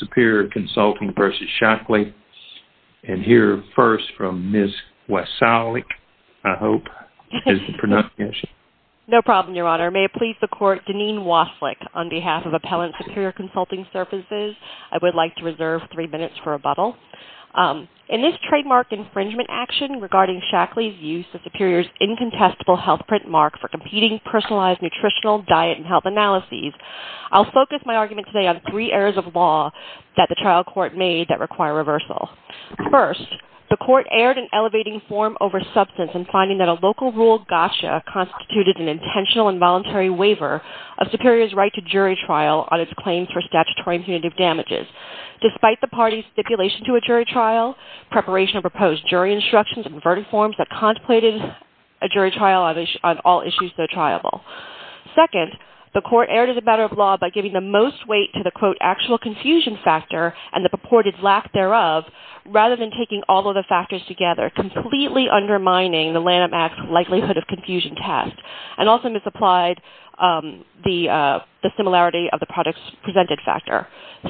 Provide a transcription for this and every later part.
Superior Consulting vs. Shaklee In this trademark infringement action regarding Shaklee's use of Superior's incontestable health print mark for competing personalized nutritional diet and health analyses, I'll focus my argument today on three errors of law that the trial court made that require reversal. First, the court erred in elevating form over substance in finding that a local rule gotcha constituted an intentional and voluntary waiver of Superior's right to jury trial on its claims for statutory and punitive damages. Despite the party's stipulation to a jury trial, preparation of proposed jury instructions and verdict forms that contemplated a jury trial on all issues so triable. Second, the court erred as a matter of law by giving the most weight to the quote actual confusion factor and the purported lack thereof rather than taking all of the factors together, completely undermining the Lanham Act's likelihood of confusion test and also misapplied the similarity of the products presented factor.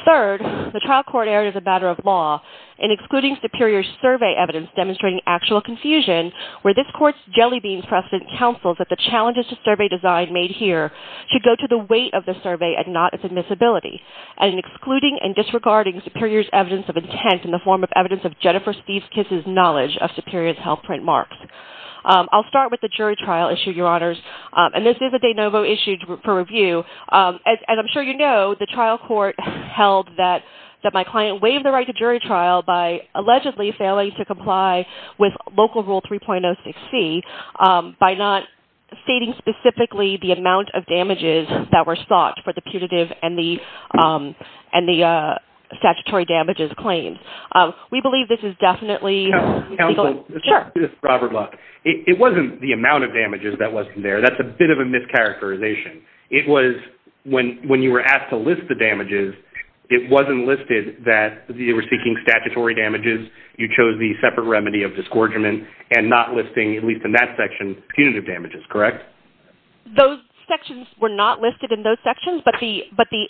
Third, the trial court erred as a matter of law in excluding Superior's survey evidence demonstrating actual confusion, where this court's jelly beans precedent counsels that the challenges to survey design made here should go to the weight of the survey and not its admissibility, and in excluding and disregarding Superior's evidence of intent in the form of evidence of Jennifer Steve Kiss's knowledge of Superior's health print marks. I'll start with the jury trial issue, Your Honors, and this is a de novo issue for review. As I'm sure you know, the trial court held that my client waived the right to jury trial by allegedly failing to comply with Local Rule 3.06c by not stating specifically the amount of damages that were sought for the punitive and the statutory damages claims. We believe this is definitely legal. Robert Luck, it wasn't the amount of damages that wasn't there. That's a bit of a mischaracterization. It was when you were asked to list the damages, it wasn't listed that you were seeking statutory damages. You chose the separate remedy of disgorgement and not listing, at least in that section, punitive damages, correct? Those sections were not listed in those sections, but the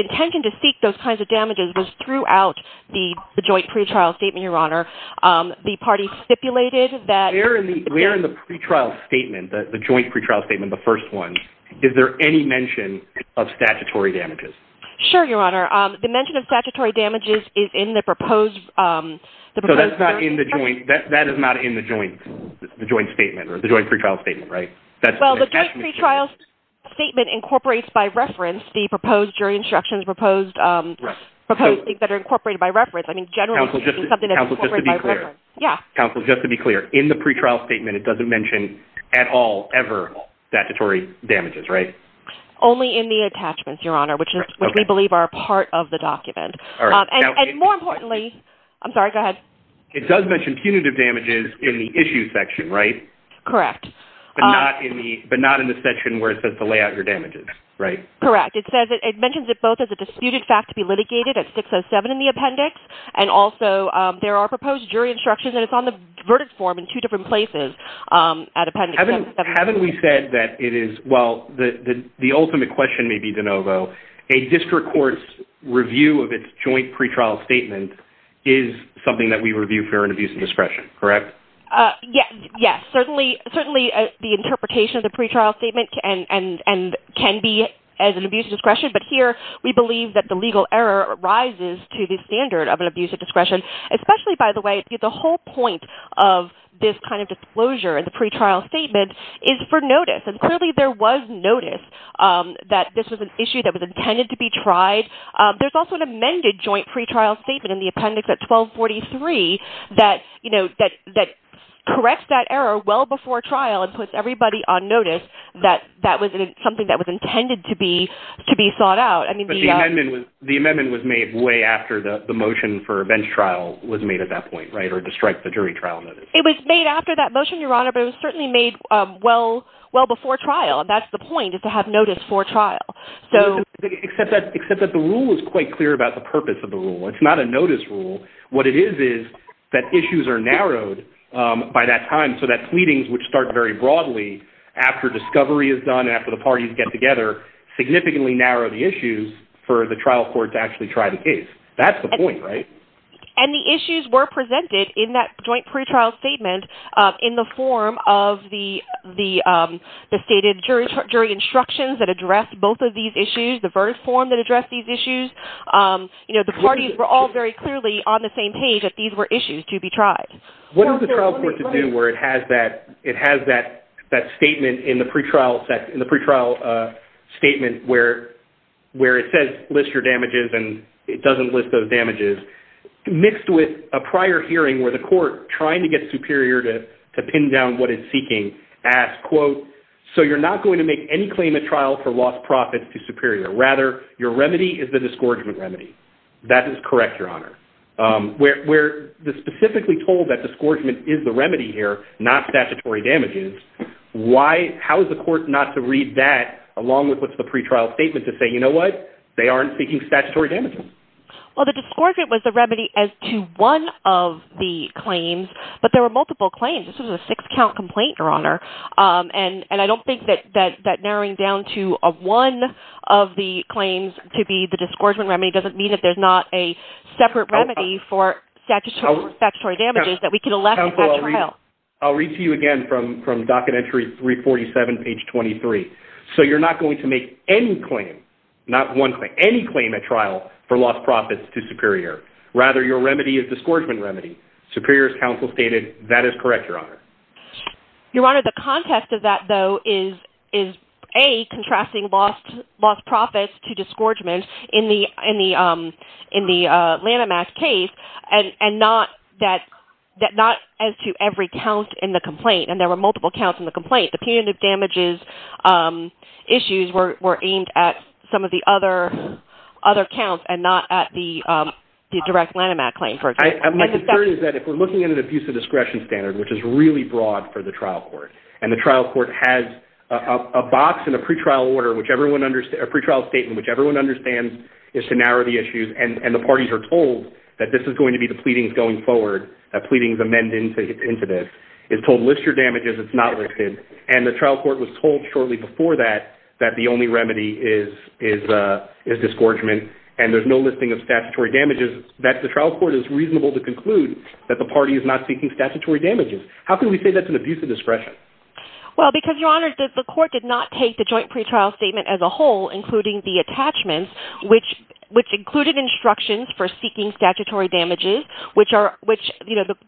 intention to seek those kinds of damages was throughout the joint pretrial statement, Your Honor. The party stipulated that... Where in the pretrial statement, the joint pretrial statement, the first one, is there any mention of statutory damages? Sure, Your Honor. The mention of statutory damages is in the proposed... So that's not in the joint, that is not in the joint statement or the joint pretrial statement, right? Well, the joint pretrial statement incorporates by reference the proposed jury instructions, proposed things that are incorporated by reference. Counsel, just to be clear, in the pretrial statement, it doesn't mention at all, ever, statutory damages, right? Only in the attachments, Your Honor, which we believe are a part of the document. And more importantly... I'm sorry, go ahead. It does mention punitive damages in the issue section, right? Correct. But not in the section where it says to lay out your damages, right? Correct. It mentions it both as a disputed fact to be litigated at 607 in the appendix, and also there are proposed jury instructions, and it's on the verdict form in two different places at appendix 607. Haven't we said that it is, well, the ultimate question may be de novo, a district court's review of its joint pretrial statement is something that we review for an abuse of discretion, correct? Yes, certainly the interpretation of the pretrial statement can be as an abuse of discretion, but here we believe that the legal error rises to the standard of an abuse of discretion. Especially, by the way, the whole point of this kind of disclosure in the pretrial statement is for notice, and clearly there was notice that this was an issue that was intended to be tried. There's also an amended joint pretrial statement in the appendix at 1243 that, you know, that corrects that error well before trial and puts everybody on notice that that was something that was intended to be sought out. But the amendment was made way after the motion for a bench trial was made at that point, right, or to strike the jury trial notice. It was made after that motion, Your Honor, but it was certainly made well before trial, and that's the point, is to have notice before trial. Except that the rule is quite clear about the purpose of the rule. It's not a notice rule. What it is is that issues are narrowed by that time so that pleadings, which start very broadly after discovery is done, after the parties get together, significantly narrow the issues for the trial court to actually try the case. That's the point, right? And the issues were presented in that joint pretrial statement in the form of the stated jury instructions that addressed both of these issues, the verdict form that addressed these issues. You know, the parties were all very clearly on the same page that these were issues to be tried. What is the trial court to do where it has that statement in the pretrial statement where it says list your damages and it doesn't list those damages, mixed with a prior hearing where the court, trying to get superior to pin down what it's seeking, asked, quote, so you're not going to make any claim at trial for lost profits to superior. Rather, your remedy is the disgorgement remedy. That is correct, Your Honor. We're specifically told that disgorgement is the remedy here, not statutory damages. How is the court not to read that along with what's the pretrial statement to say, you know what, they aren't seeking statutory damages? Well, the disgorgement was the remedy as to one of the claims, but there were multiple claims. This was a six count complaint, Your Honor, and I don't think that narrowing down to one of the claims to be the disgorgement remedy doesn't mean that there's not a separate remedy for statutory damages that we can elect at trial. Counsel, I'll read to you again from docket entry 347, page 23. So you're not going to make any claim, not one claim, any claim at trial for lost profits to superior. Rather, your remedy is disgorgement remedy. Superior's counsel stated that is correct, Your Honor. Your Honor, the context of that, though, is a contrasting lost loss profits to disgorgement in the in the in the landmass case and not that that not as to every count in the complaint. And there were multiple counts in the complaint. The punitive damages issues were aimed at some of the other other counts and not at the direct landmass claim, for example. My concern is that if we're looking at an abuse of discretion standard, which is really broad for the trial court, and the trial court has a box in a pretrial order, whichever one under a pretrial statement, whichever one understands is to narrow the issues. And the parties are told that this is going to be the pleadings going forward, that pleadings amend into this is told, list your damages. It's not listed. And the trial court was told shortly before that, that the only remedy is is is disgorgement. And there's no listing of statutory damages that the trial court is reasonable to conclude that the party is not seeking statutory damages. How can we say that's an abuse of discretion? Well, because, Your Honor, the court did not take the joint pretrial statement as a whole, including the attachments, which which included instructions for seeking statutory damages, which are which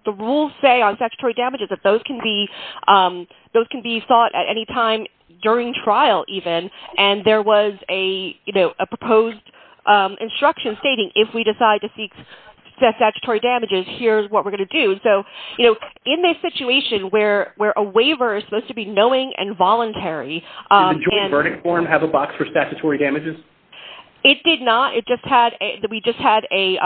the rules say on statutory damages, that those can be those can be sought at any time during trial even. And there was a proposed instruction stating if we decide to seek statutory damages, here's what we're going to do. And so, you know, in this situation where where a waiver is supposed to be knowing and voluntary. Did the joint verdict form have a box for statutory damages? It did not. It just had a we just had a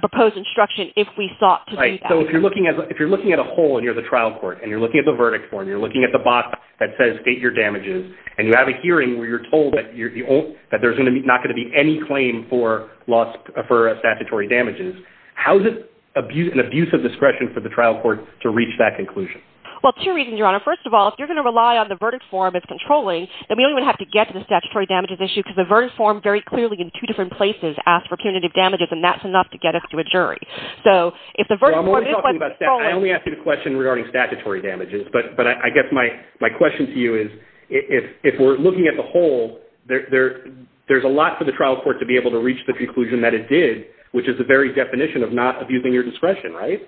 proposed instruction if we sought to do that. Right. So if you're looking at if you're looking at a whole and you're the trial court and you're looking at the verdict form, you're looking at the box that says state your damages, and you have a hearing where you're told that you're that there's going to be not going to be any claim for loss for statutory damages. How is it abuse and abuse of discretion for the trial court to reach that conclusion? Well, two reasons, Your Honor. First of all, if you're going to rely on the verdict form, it's controlling that we don't even have to get to the statutory damages issue because the verdict form very clearly in two different places asked for punitive damages, and that's enough to get us to a jury. So if the verdict was only after the question regarding statutory damages, but but I guess my my question to you is, if we're looking at the whole there, there's a lot for the trial court to be able to reach the conclusion that it did, which is the very definition of not abusing your discretion. Right?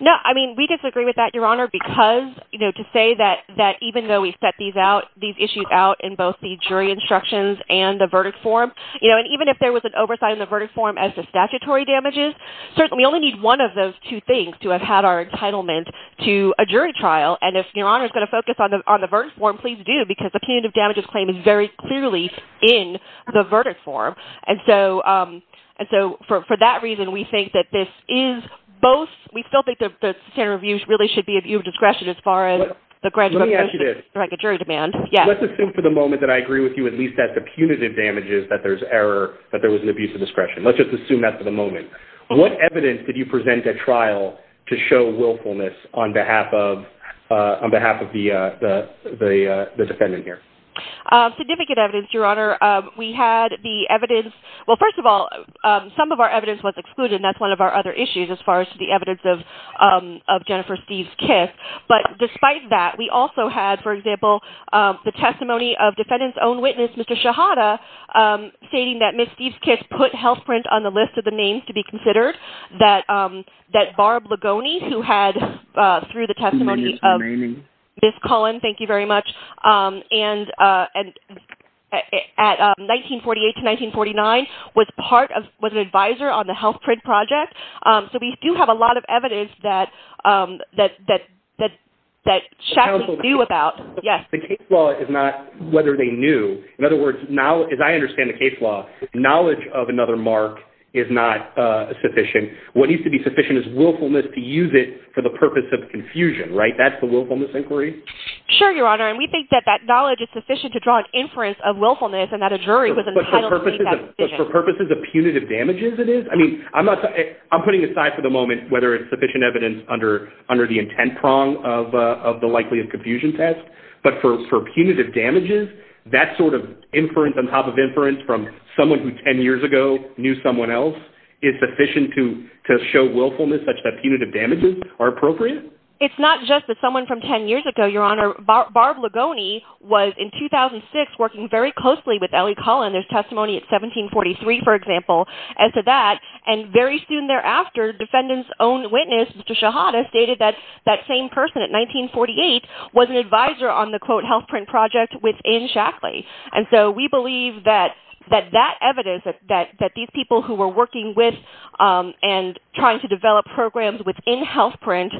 No, I mean, we disagree with that, Your Honor, because, you know, to say that that even though we set these out these issues out in both the jury instructions and the verdict form, you know, and even if there was an oversight in the verdict form as the statutory damages, certainly only need one of those two things to have had our entitlement to a jury trial. And if Your Honor is going to focus on the on the verdict form, please do, because the punitive damages claim is very clearly in the verdict form. And so and so for that reason, we think that this is both. We still think that the standard of use really should be a view of discretion as far as the graduate jury demand. Let's assume for the moment that I agree with you at least that the punitive damages that there's error, that there was an abuse of discretion. Let's just assume that for the moment. What evidence did you present at trial to show willfulness on behalf of on behalf of the defendant here? Significant evidence, Your Honor. We had the evidence. Well, first of all, some of our evidence was excluded. That's one of our other issues as far as the evidence of of Jennifer Steve's kiss. But despite that, we also had, for example, the testimony of defendant's own witness, Mr. Shahada, stating that Miss Steve's kiss put health print on the list of the names to be considered. That that Barb Ligoni, who had through the testimony of Miss Cullen, thank you very much. And at 1948 to 1949, was part of was an advisor on the health print project. So we do have a lot of evidence that that that that that Shaq knew about. Well, it's not whether they knew. In other words, now, as I understand the case law, knowledge of another mark is not sufficient. What needs to be sufficient is willfulness to use it for the purpose of confusion. Right. That's the willfulness inquiry. Sure, Your Honor. And we think that that knowledge is sufficient to draw an inference of willfulness and that a jury was entitled for purposes of punitive damages. It is. I mean, I'm not I'm putting aside for the moment whether it's sufficient evidence under under the intent prong of of the likelihood confusion test. But for punitive damages, that sort of inference on top of inference from someone who 10 years ago knew someone else is sufficient to to show willfulness such that punitive damages are appropriate. It's not just that someone from 10 years ago, Your Honor. Barb Ligoni was in 2006, working very closely with Ellie Cullen. There's testimony at 1743, for example, as to that. And very soon thereafter, defendants own witness to Shahada stated that that same person at 1948 was an advisor on the quote health print project with in Shackley. And so we believe that that that evidence that that that these people who were working with and trying to develop programs within health print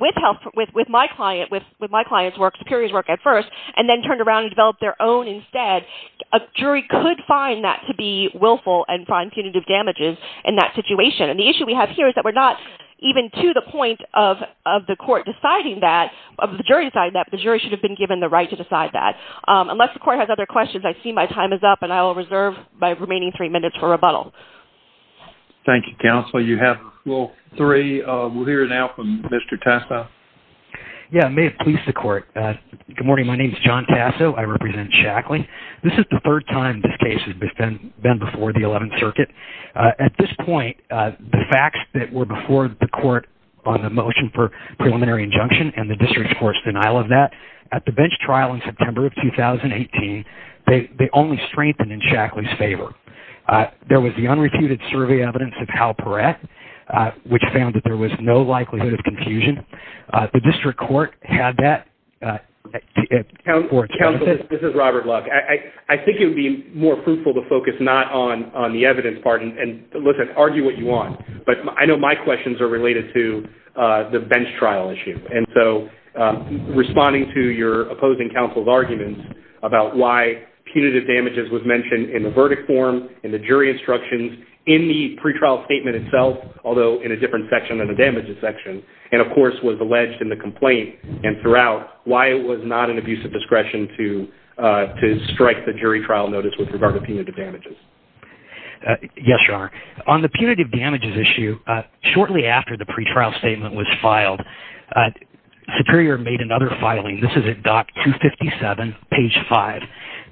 with health with with my client with with my client's work, superiors work at first, and then turned around and develop their own. Instead, a jury could find that to be willful and find punitive damages in that situation. And the issue we have here is that we're not even to the point of of the court deciding that of the jury side that the jury should have been given the right to decide that. Unless the court has other questions, I see my time is up and I will reserve my remaining three minutes for rebuttal. Thank you, counsel. You have three. We'll hear now from Mr. Tessa. Yeah, may it please the court. Good morning. My name is John Tasso. I represent Shackley. This is the third time this case has been been before the 11th Circuit. At this point, the facts that were before the court on the motion for preliminary injunction and the district court's denial of that at the bench trial in September of 2018, they only strengthened in Shackley's favor. There was the unrefuted survey evidence of how correct, which found that there was no likelihood of confusion. The district court had that. Counsel, this is Robert Luck. I think it would be more fruitful to focus not on the evidence part and listen, argue what you want. But I know my questions are related to the bench trial issue. And so responding to your opposing counsel's arguments about why punitive damages was mentioned in the verdict form, in the jury instructions, in the pretrial statement itself, although in a different section in the damages section. And, of course, was alleged in the complaint and throughout why it was not an abuse of discretion to strike the jury trial notice with regard to punitive damages. Yes, Your Honor. On the punitive damages issue, shortly after the pretrial statement was filed, Superior made another filing. This is at Dock 257, page 5.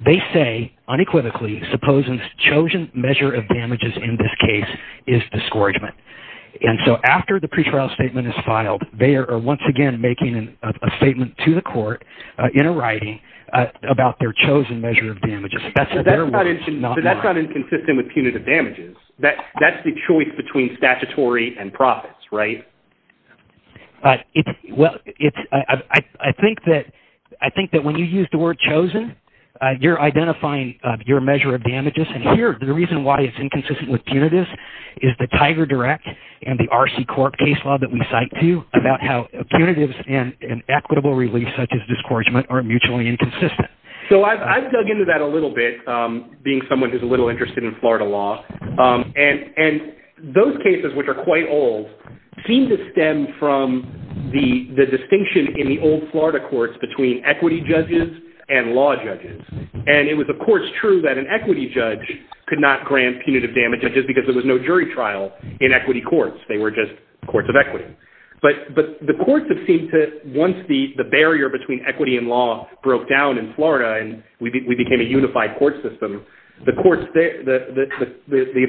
They say, unequivocally, supposing chosen measure of damages in this case is discouragement. And so after the pretrial statement is filed, they are once again making a statement to the court in a writing about their chosen measure of damages. So that's not inconsistent with punitive damages. That's the choice between statutory and profits, right? Well, I think that when you use the word chosen, you're identifying your measure of damages. And here, the reason why it's inconsistent with punitives is the Tiger Direct and the RC Court case law that we cite to you about how punitives and equitable relief such as discouragement are mutually inconsistent. So I've dug into that a little bit, being someone who's a little interested in Florida law. And those cases, which are quite old, seem to stem from the distinction in the old Florida courts between equity judges and law judges. And it was, of course, true that an equity judge could not grant punitive damages because there was no jury trial in equity courts. They were just courts of equity. But the courts have seemed to, once the barrier between equity and law broke down in Florida and we became a unified court system, the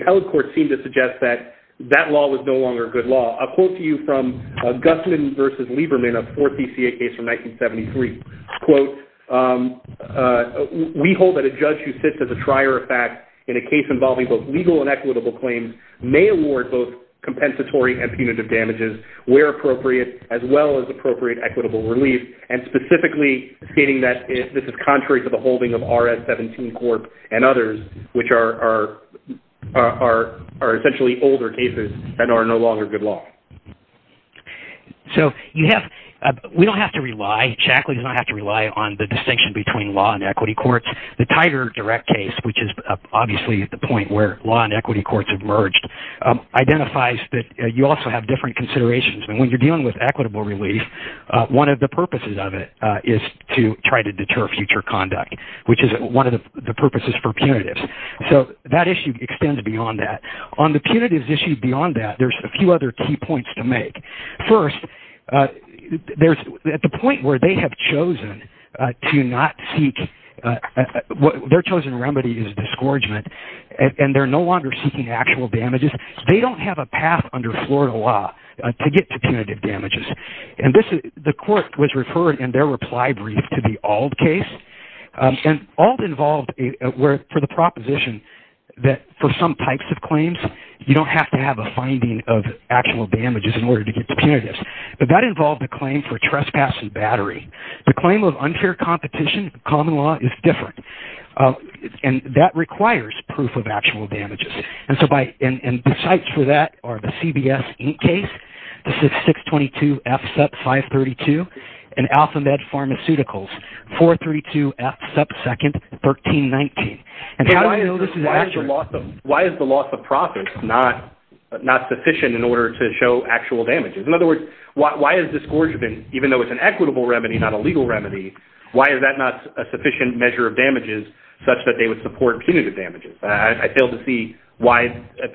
appellate courts seem to suggest that that law was no longer a good law. I'll quote to you from Gusman v. Lieberman, a fourth DCA case from 1973. Quote, we hold that a judge who sits as a trier of fact in a case involving both legal and equitable claims may award both compensatory and punitive damages where appropriate as well as appropriate equitable relief. And specifically stating that this is contrary to the holding of RS-17 Corp. and others, which are essentially older cases and are no longer good law. So we don't have to rely. Chackley does not have to rely on the distinction between law and equity courts. The Tiger Direct case, which is obviously at the point where law and equity courts have merged, identifies that you also have different considerations. And when you're dealing with equitable relief, one of the purposes of it is to try to deter future conduct, which is one of the purposes for punitives. So that issue extends beyond that. On the punitives issue beyond that, there's a few other key points to make. First, at the point where they have chosen to not seek, their chosen remedy is disgorgement, and they're no longer seeking actual damages, they don't have a path under Florida law to get to punitive damages. And the court was referred in their reply brief to the Auld case. And Auld involved for the proposition that for some types of claims, you don't have to have a finding of actual damages in order to get to punitives. But that involved a claim for trespassing battery. The claim of unfair competition, common law, is different. And that requires proof of actual damages. And the sites for that are the CBS Inc. case. This is 622F, sub 532, and Alpha Med Pharmaceuticals, 432F, sub 2nd, 1319. And how do we know this is accurate? Why is the loss of profits not sufficient in order to show actual damages? In other words, why is disgorgement, even though it's an equitable remedy, not a legal remedy, why is that not a sufficient measure of damages such that they would support punitive damages? I fail to see why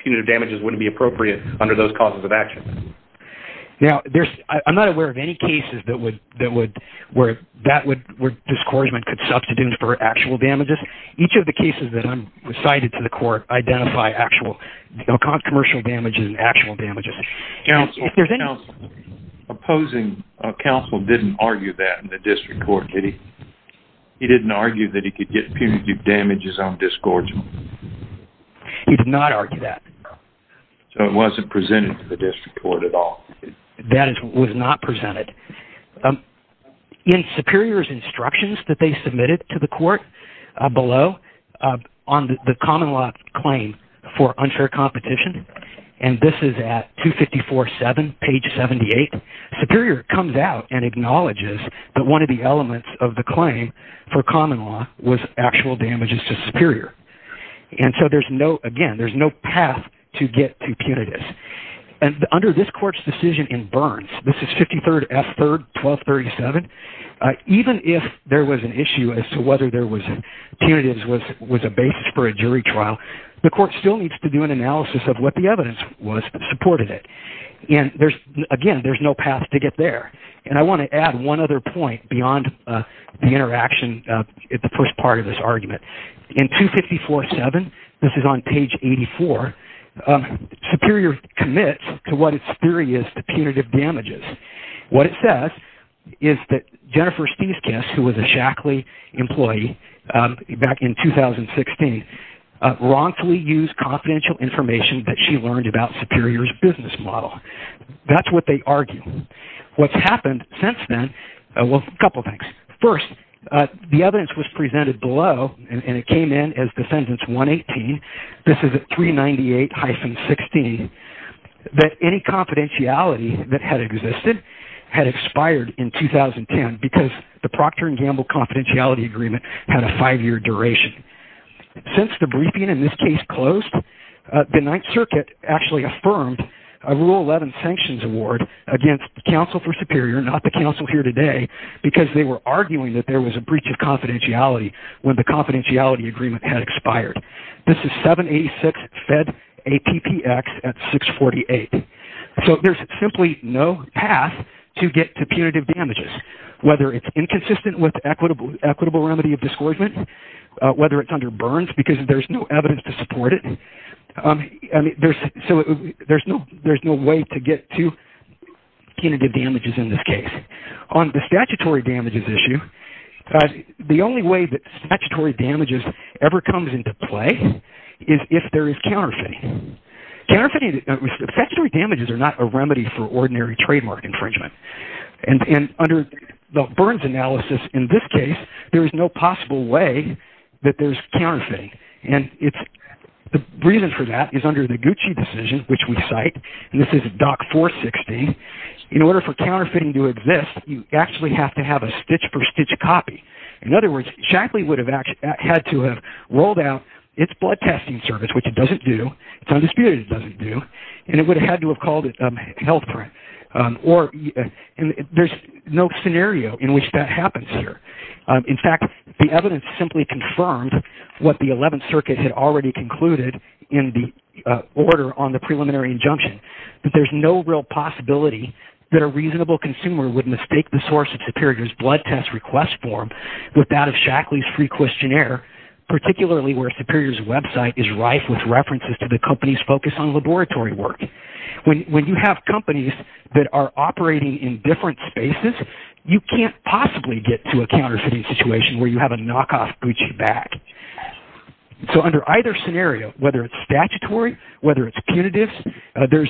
punitive damages wouldn't be appropriate under those causes of action. Now, I'm not aware of any cases where disgorgement could substitute for actual damages. Each of the cases that I cited to the court identify actual commercial damages and actual damages. Counsel, opposing counsel didn't argue that in the district court, did he? He didn't argue that he could get punitive damages on disgorgement. He did not argue that. So it wasn't presented to the district court at all. That was not presented. In Superior's instructions that they submitted to the court below on the common law claim for unfair competition, and this is at 254-7, page 78, Superior comes out and acknowledges that one of the elements of the claim for common law was actual damages to Superior. And so there's no, again, there's no path to get to punitives. And under this court's decision in Burns, this is 53rd F. 3rd, 1237, even if there was an issue as to whether there was, punitives was a basis for a jury trial, the court still needs to do an analysis of what the evidence was that supported it. And there's, again, there's no path to get there. And I want to add one other point beyond the interaction at the first part of this argument. In 254-7, this is on page 84, Superior commits to what its theory is to punitive damages. What it says is that Jennifer Stiesges, who was a Shackley employee back in 2016, wrongfully used confidential information that she learned about Superior's business model. That's what they argue. What's happened since then, well, a couple of things. First, the evidence was presented below, and it came in as defendant's 118. This is 398-16, that any confidentiality that had existed had expired in 2010 because the Procter & Gamble confidentiality agreement had a five-year duration. Since the briefing in this case closed, the Ninth Circuit actually affirmed a Rule 11 sanctions award against counsel for Superior, not the counsel here today, because they were arguing that there was a breach of confidentiality when the confidentiality agreement had expired. This is 786-FED-APPX at 648. There's simply no path to get to punitive damages, whether it's inconsistent with equitable remedy of discouragement, whether it's under Burns because there's no evidence to support it. There's no way to get to punitive damages in this case. On the statutory damages issue, the only way that statutory damages ever comes into play is if there is counterfeiting. Statutory damages are not a remedy for ordinary trademark infringement. Under the Burns analysis in this case, there is no possible way that there's counterfeiting. The reason for that is under the Gucci decision, which we cite, and this is Dock 460, in order for counterfeiting to exist, you actually have to have a stitch-per-stitch copy. In other words, Shackley would have had to have rolled out its blood testing service, which it doesn't do, it's undisputed it doesn't do, and it would have had to have called it a health threat. There's no scenario in which that happens here. In fact, the evidence simply confirmed what the 11th Circuit had already concluded in the order on the preliminary injunction, that there's no real possibility that a reasonable consumer would mistake the source of Superior's blood test request form with that of Shackley's free questionnaire, particularly where Superior's website is rife with references to the company's focus on laboratory work. When you have companies that are operating in different spaces, you can't possibly get to a counterfeiting situation where you have a knockoff Gucci bag. Under either scenario, whether it's statutory, whether it's punitive, there's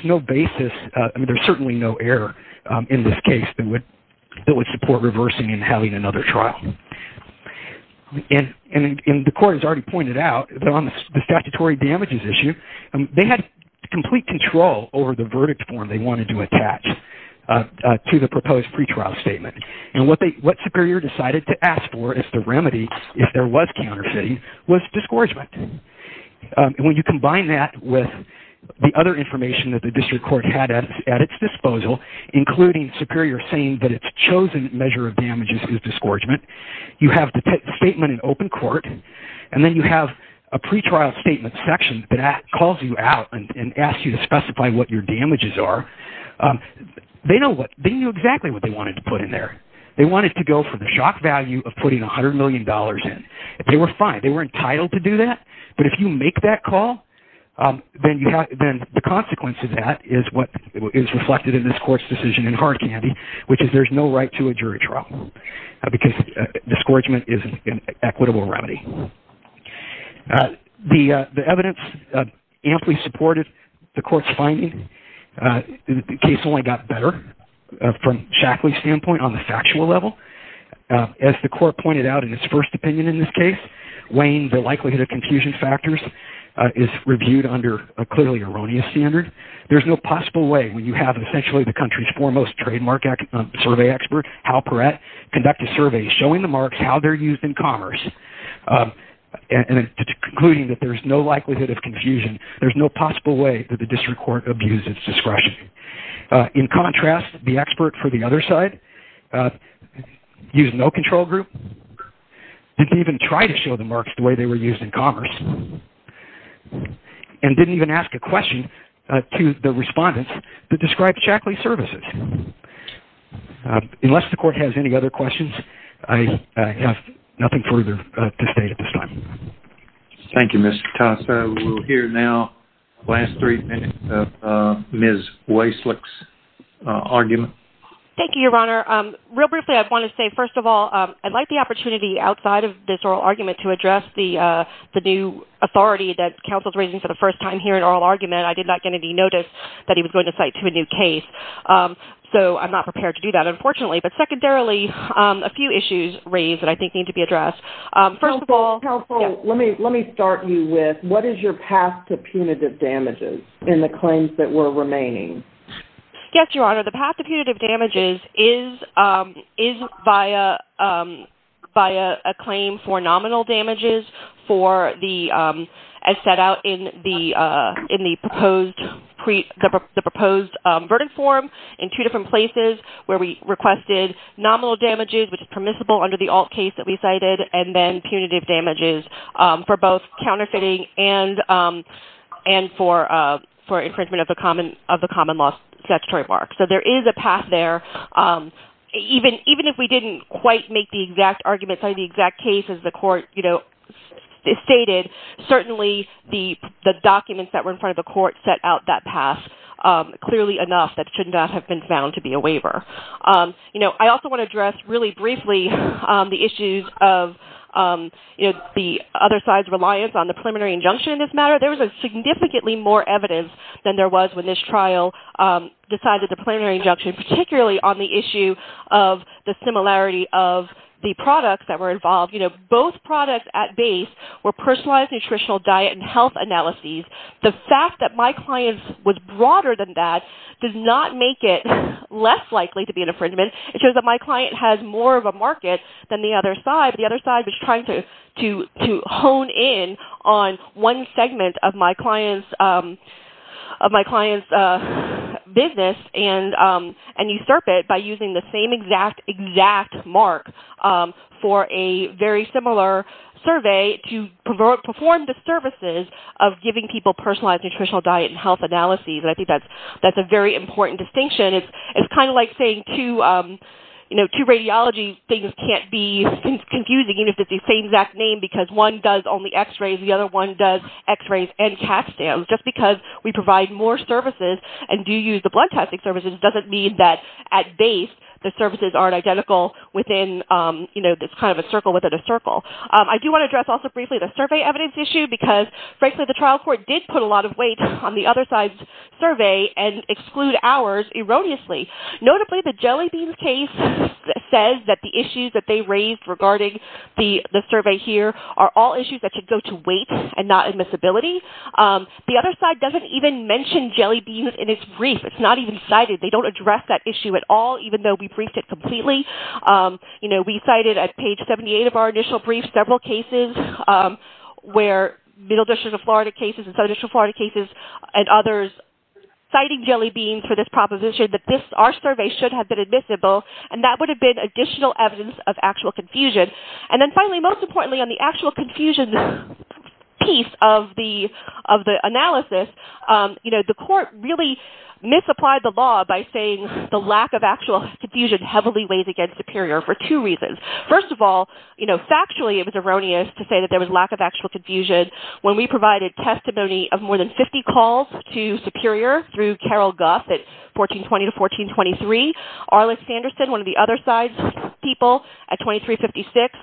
certainly no error in this case that would support reversing and having another trial. The court has already pointed out that on the statutory damages issue, they had complete control over the verdict form they wanted to attach to the proposed pretrial statement. What Superior decided to ask for as the remedy, if there was counterfeiting, was disgorgement. When you combine that with the other information that the district court had at its disposal, including Superior saying that its chosen measure of damages is disgorgement, you have the statement in open court, and then you have a pretrial statement section that calls you out and asks you to specify what your damages are. They knew exactly what they wanted to put in there. They wanted to go for the shock value of putting $100 million in. They were fine. They were entitled to do that, but if you make that call, then the consequence of that is what is reflected in this court's decision in hard candy, which is there's no right to a jury trial because disgorgement is an equitable remedy. The evidence amply supported the court's finding. The case only got better from Shackley's standpoint on the factual level. As the court pointed out in its first opinion in this case, weighing the likelihood of confusion factors is reviewed under a clearly erroneous standard. There's no possible way when you have essentially the country's foremost trademark survey expert, Hal Perrette, conduct a survey showing the marks, how they're used in commerce, and concluding that there's no likelihood of confusion. There's no possible way that the district court abused its discretion. In contrast, the expert for the other side used no control group, didn't even try to show the marks the way they were used in commerce, and didn't even ask a question to the respondents that described Shackley's services. Unless the court has any other questions, I have nothing further to state at this time. Thank you, Mr. Tassa. We'll hear now the last three minutes of Ms. Waislick's argument. Thank you, Your Honor. Real briefly, I want to say, first of all, I'd like the opportunity outside of this oral argument to address the new authority that counsel's raising for the first time here in oral argument. I did not get any notice that he was going to cite to a new case, so I'm not prepared to do that, unfortunately. But secondarily, a few issues raised that I think need to be addressed. First of all- Counsel, let me start you with what is your path to punitive damages in the claims that were remaining? Yes, Your Honor. The path to punitive damages is via a claim for nominal damages for the- as set out in the proposed verdict form in two different places where we requested nominal damages, which is permissible under the alt case that we cited, and then punitive damages for both counterfeiting and for infringement of the common law statutory mark. So there is a path there. Even if we didn't quite make the exact argument, cite the exact case as the court stated, certainly the documents that were in front of the court set out that path clearly enough that should not have been found to be a waiver. I also want to address really briefly the issues of the other side's reliance on the preliminary injunction in this matter. There was significantly more evidence than there was when this trial decided the preliminary injunction, particularly on the issue of the similarity of the products that were involved. Both products at base were personalized nutritional diet and health analyses. The fact that my client was broader than that does not make it less likely to be an infringement. It shows that my client has more of a market than the other side. The other side was trying to hone in on one segment of my client's business and usurp it by using the same exact, exact mark for a very similar survey to perform the services of giving people personalized nutritional diet and health analyses. I think that's a very important distinction. It's kind of like saying to radiology things can't be confusing even if it's the same exact name because one does only x-rays, the other one does x-rays and cat scans. Just because we provide more services and do use the blood testing services doesn't mean that at base the services aren't identical within this kind of a circle within a circle. I do want to address also briefly the survey evidence issue because, frankly, the trial court did put a lot of weight on the other side's survey and exclude ours erroneously. Notably, the jelly beans case says that the issues that they raised regarding the survey here are all issues that should go to weight and not admissibility. The other side doesn't even mention jelly beans in its brief. It's not even cited. They don't address that issue at all even though we briefed it completely. We cited at page 78 of our initial brief several cases where Middle District of Florida cases and Southern District of Florida cases and others citing jelly beans for this proposition that our survey should have been admissible and that would have been additional evidence of actual confusion. Then finally, most importantly, on the actual confusion piece of the analysis, the court really misapplied the law by saying the lack of actual confusion heavily weighs against Superior for two reasons. First of all, factually it was erroneous to say that there was lack of actual confusion when we provided testimony of more than 50 calls to Superior through Carol Guff at 1420 to 1423. Arlen Sanderson, one of the other side's people at 2356,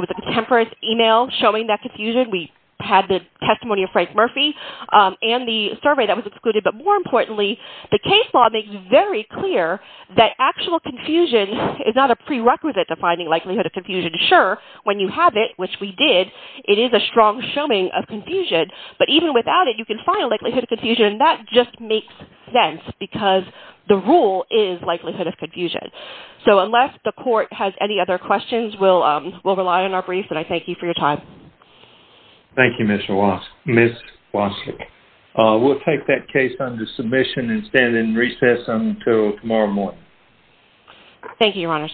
with a contemporary email showing that confusion, we had the testimony of Frank Murphy and the survey that was excluded. But more importantly, the case law makes very clear that actual confusion is not a prerequisite to finding likelihood of confusion. Sure, when you have it, which we did, it is a strong showing of confusion. But even without it, you can find likelihood of confusion. That just makes sense because the rule is likelihood of confusion. So unless the court has any other questions, we'll rely on our brief. And I thank you for your time. Thank you, Ms. Walsh. We'll take that case under submission and stand in recess until tomorrow morning. Thank you, Your Honors.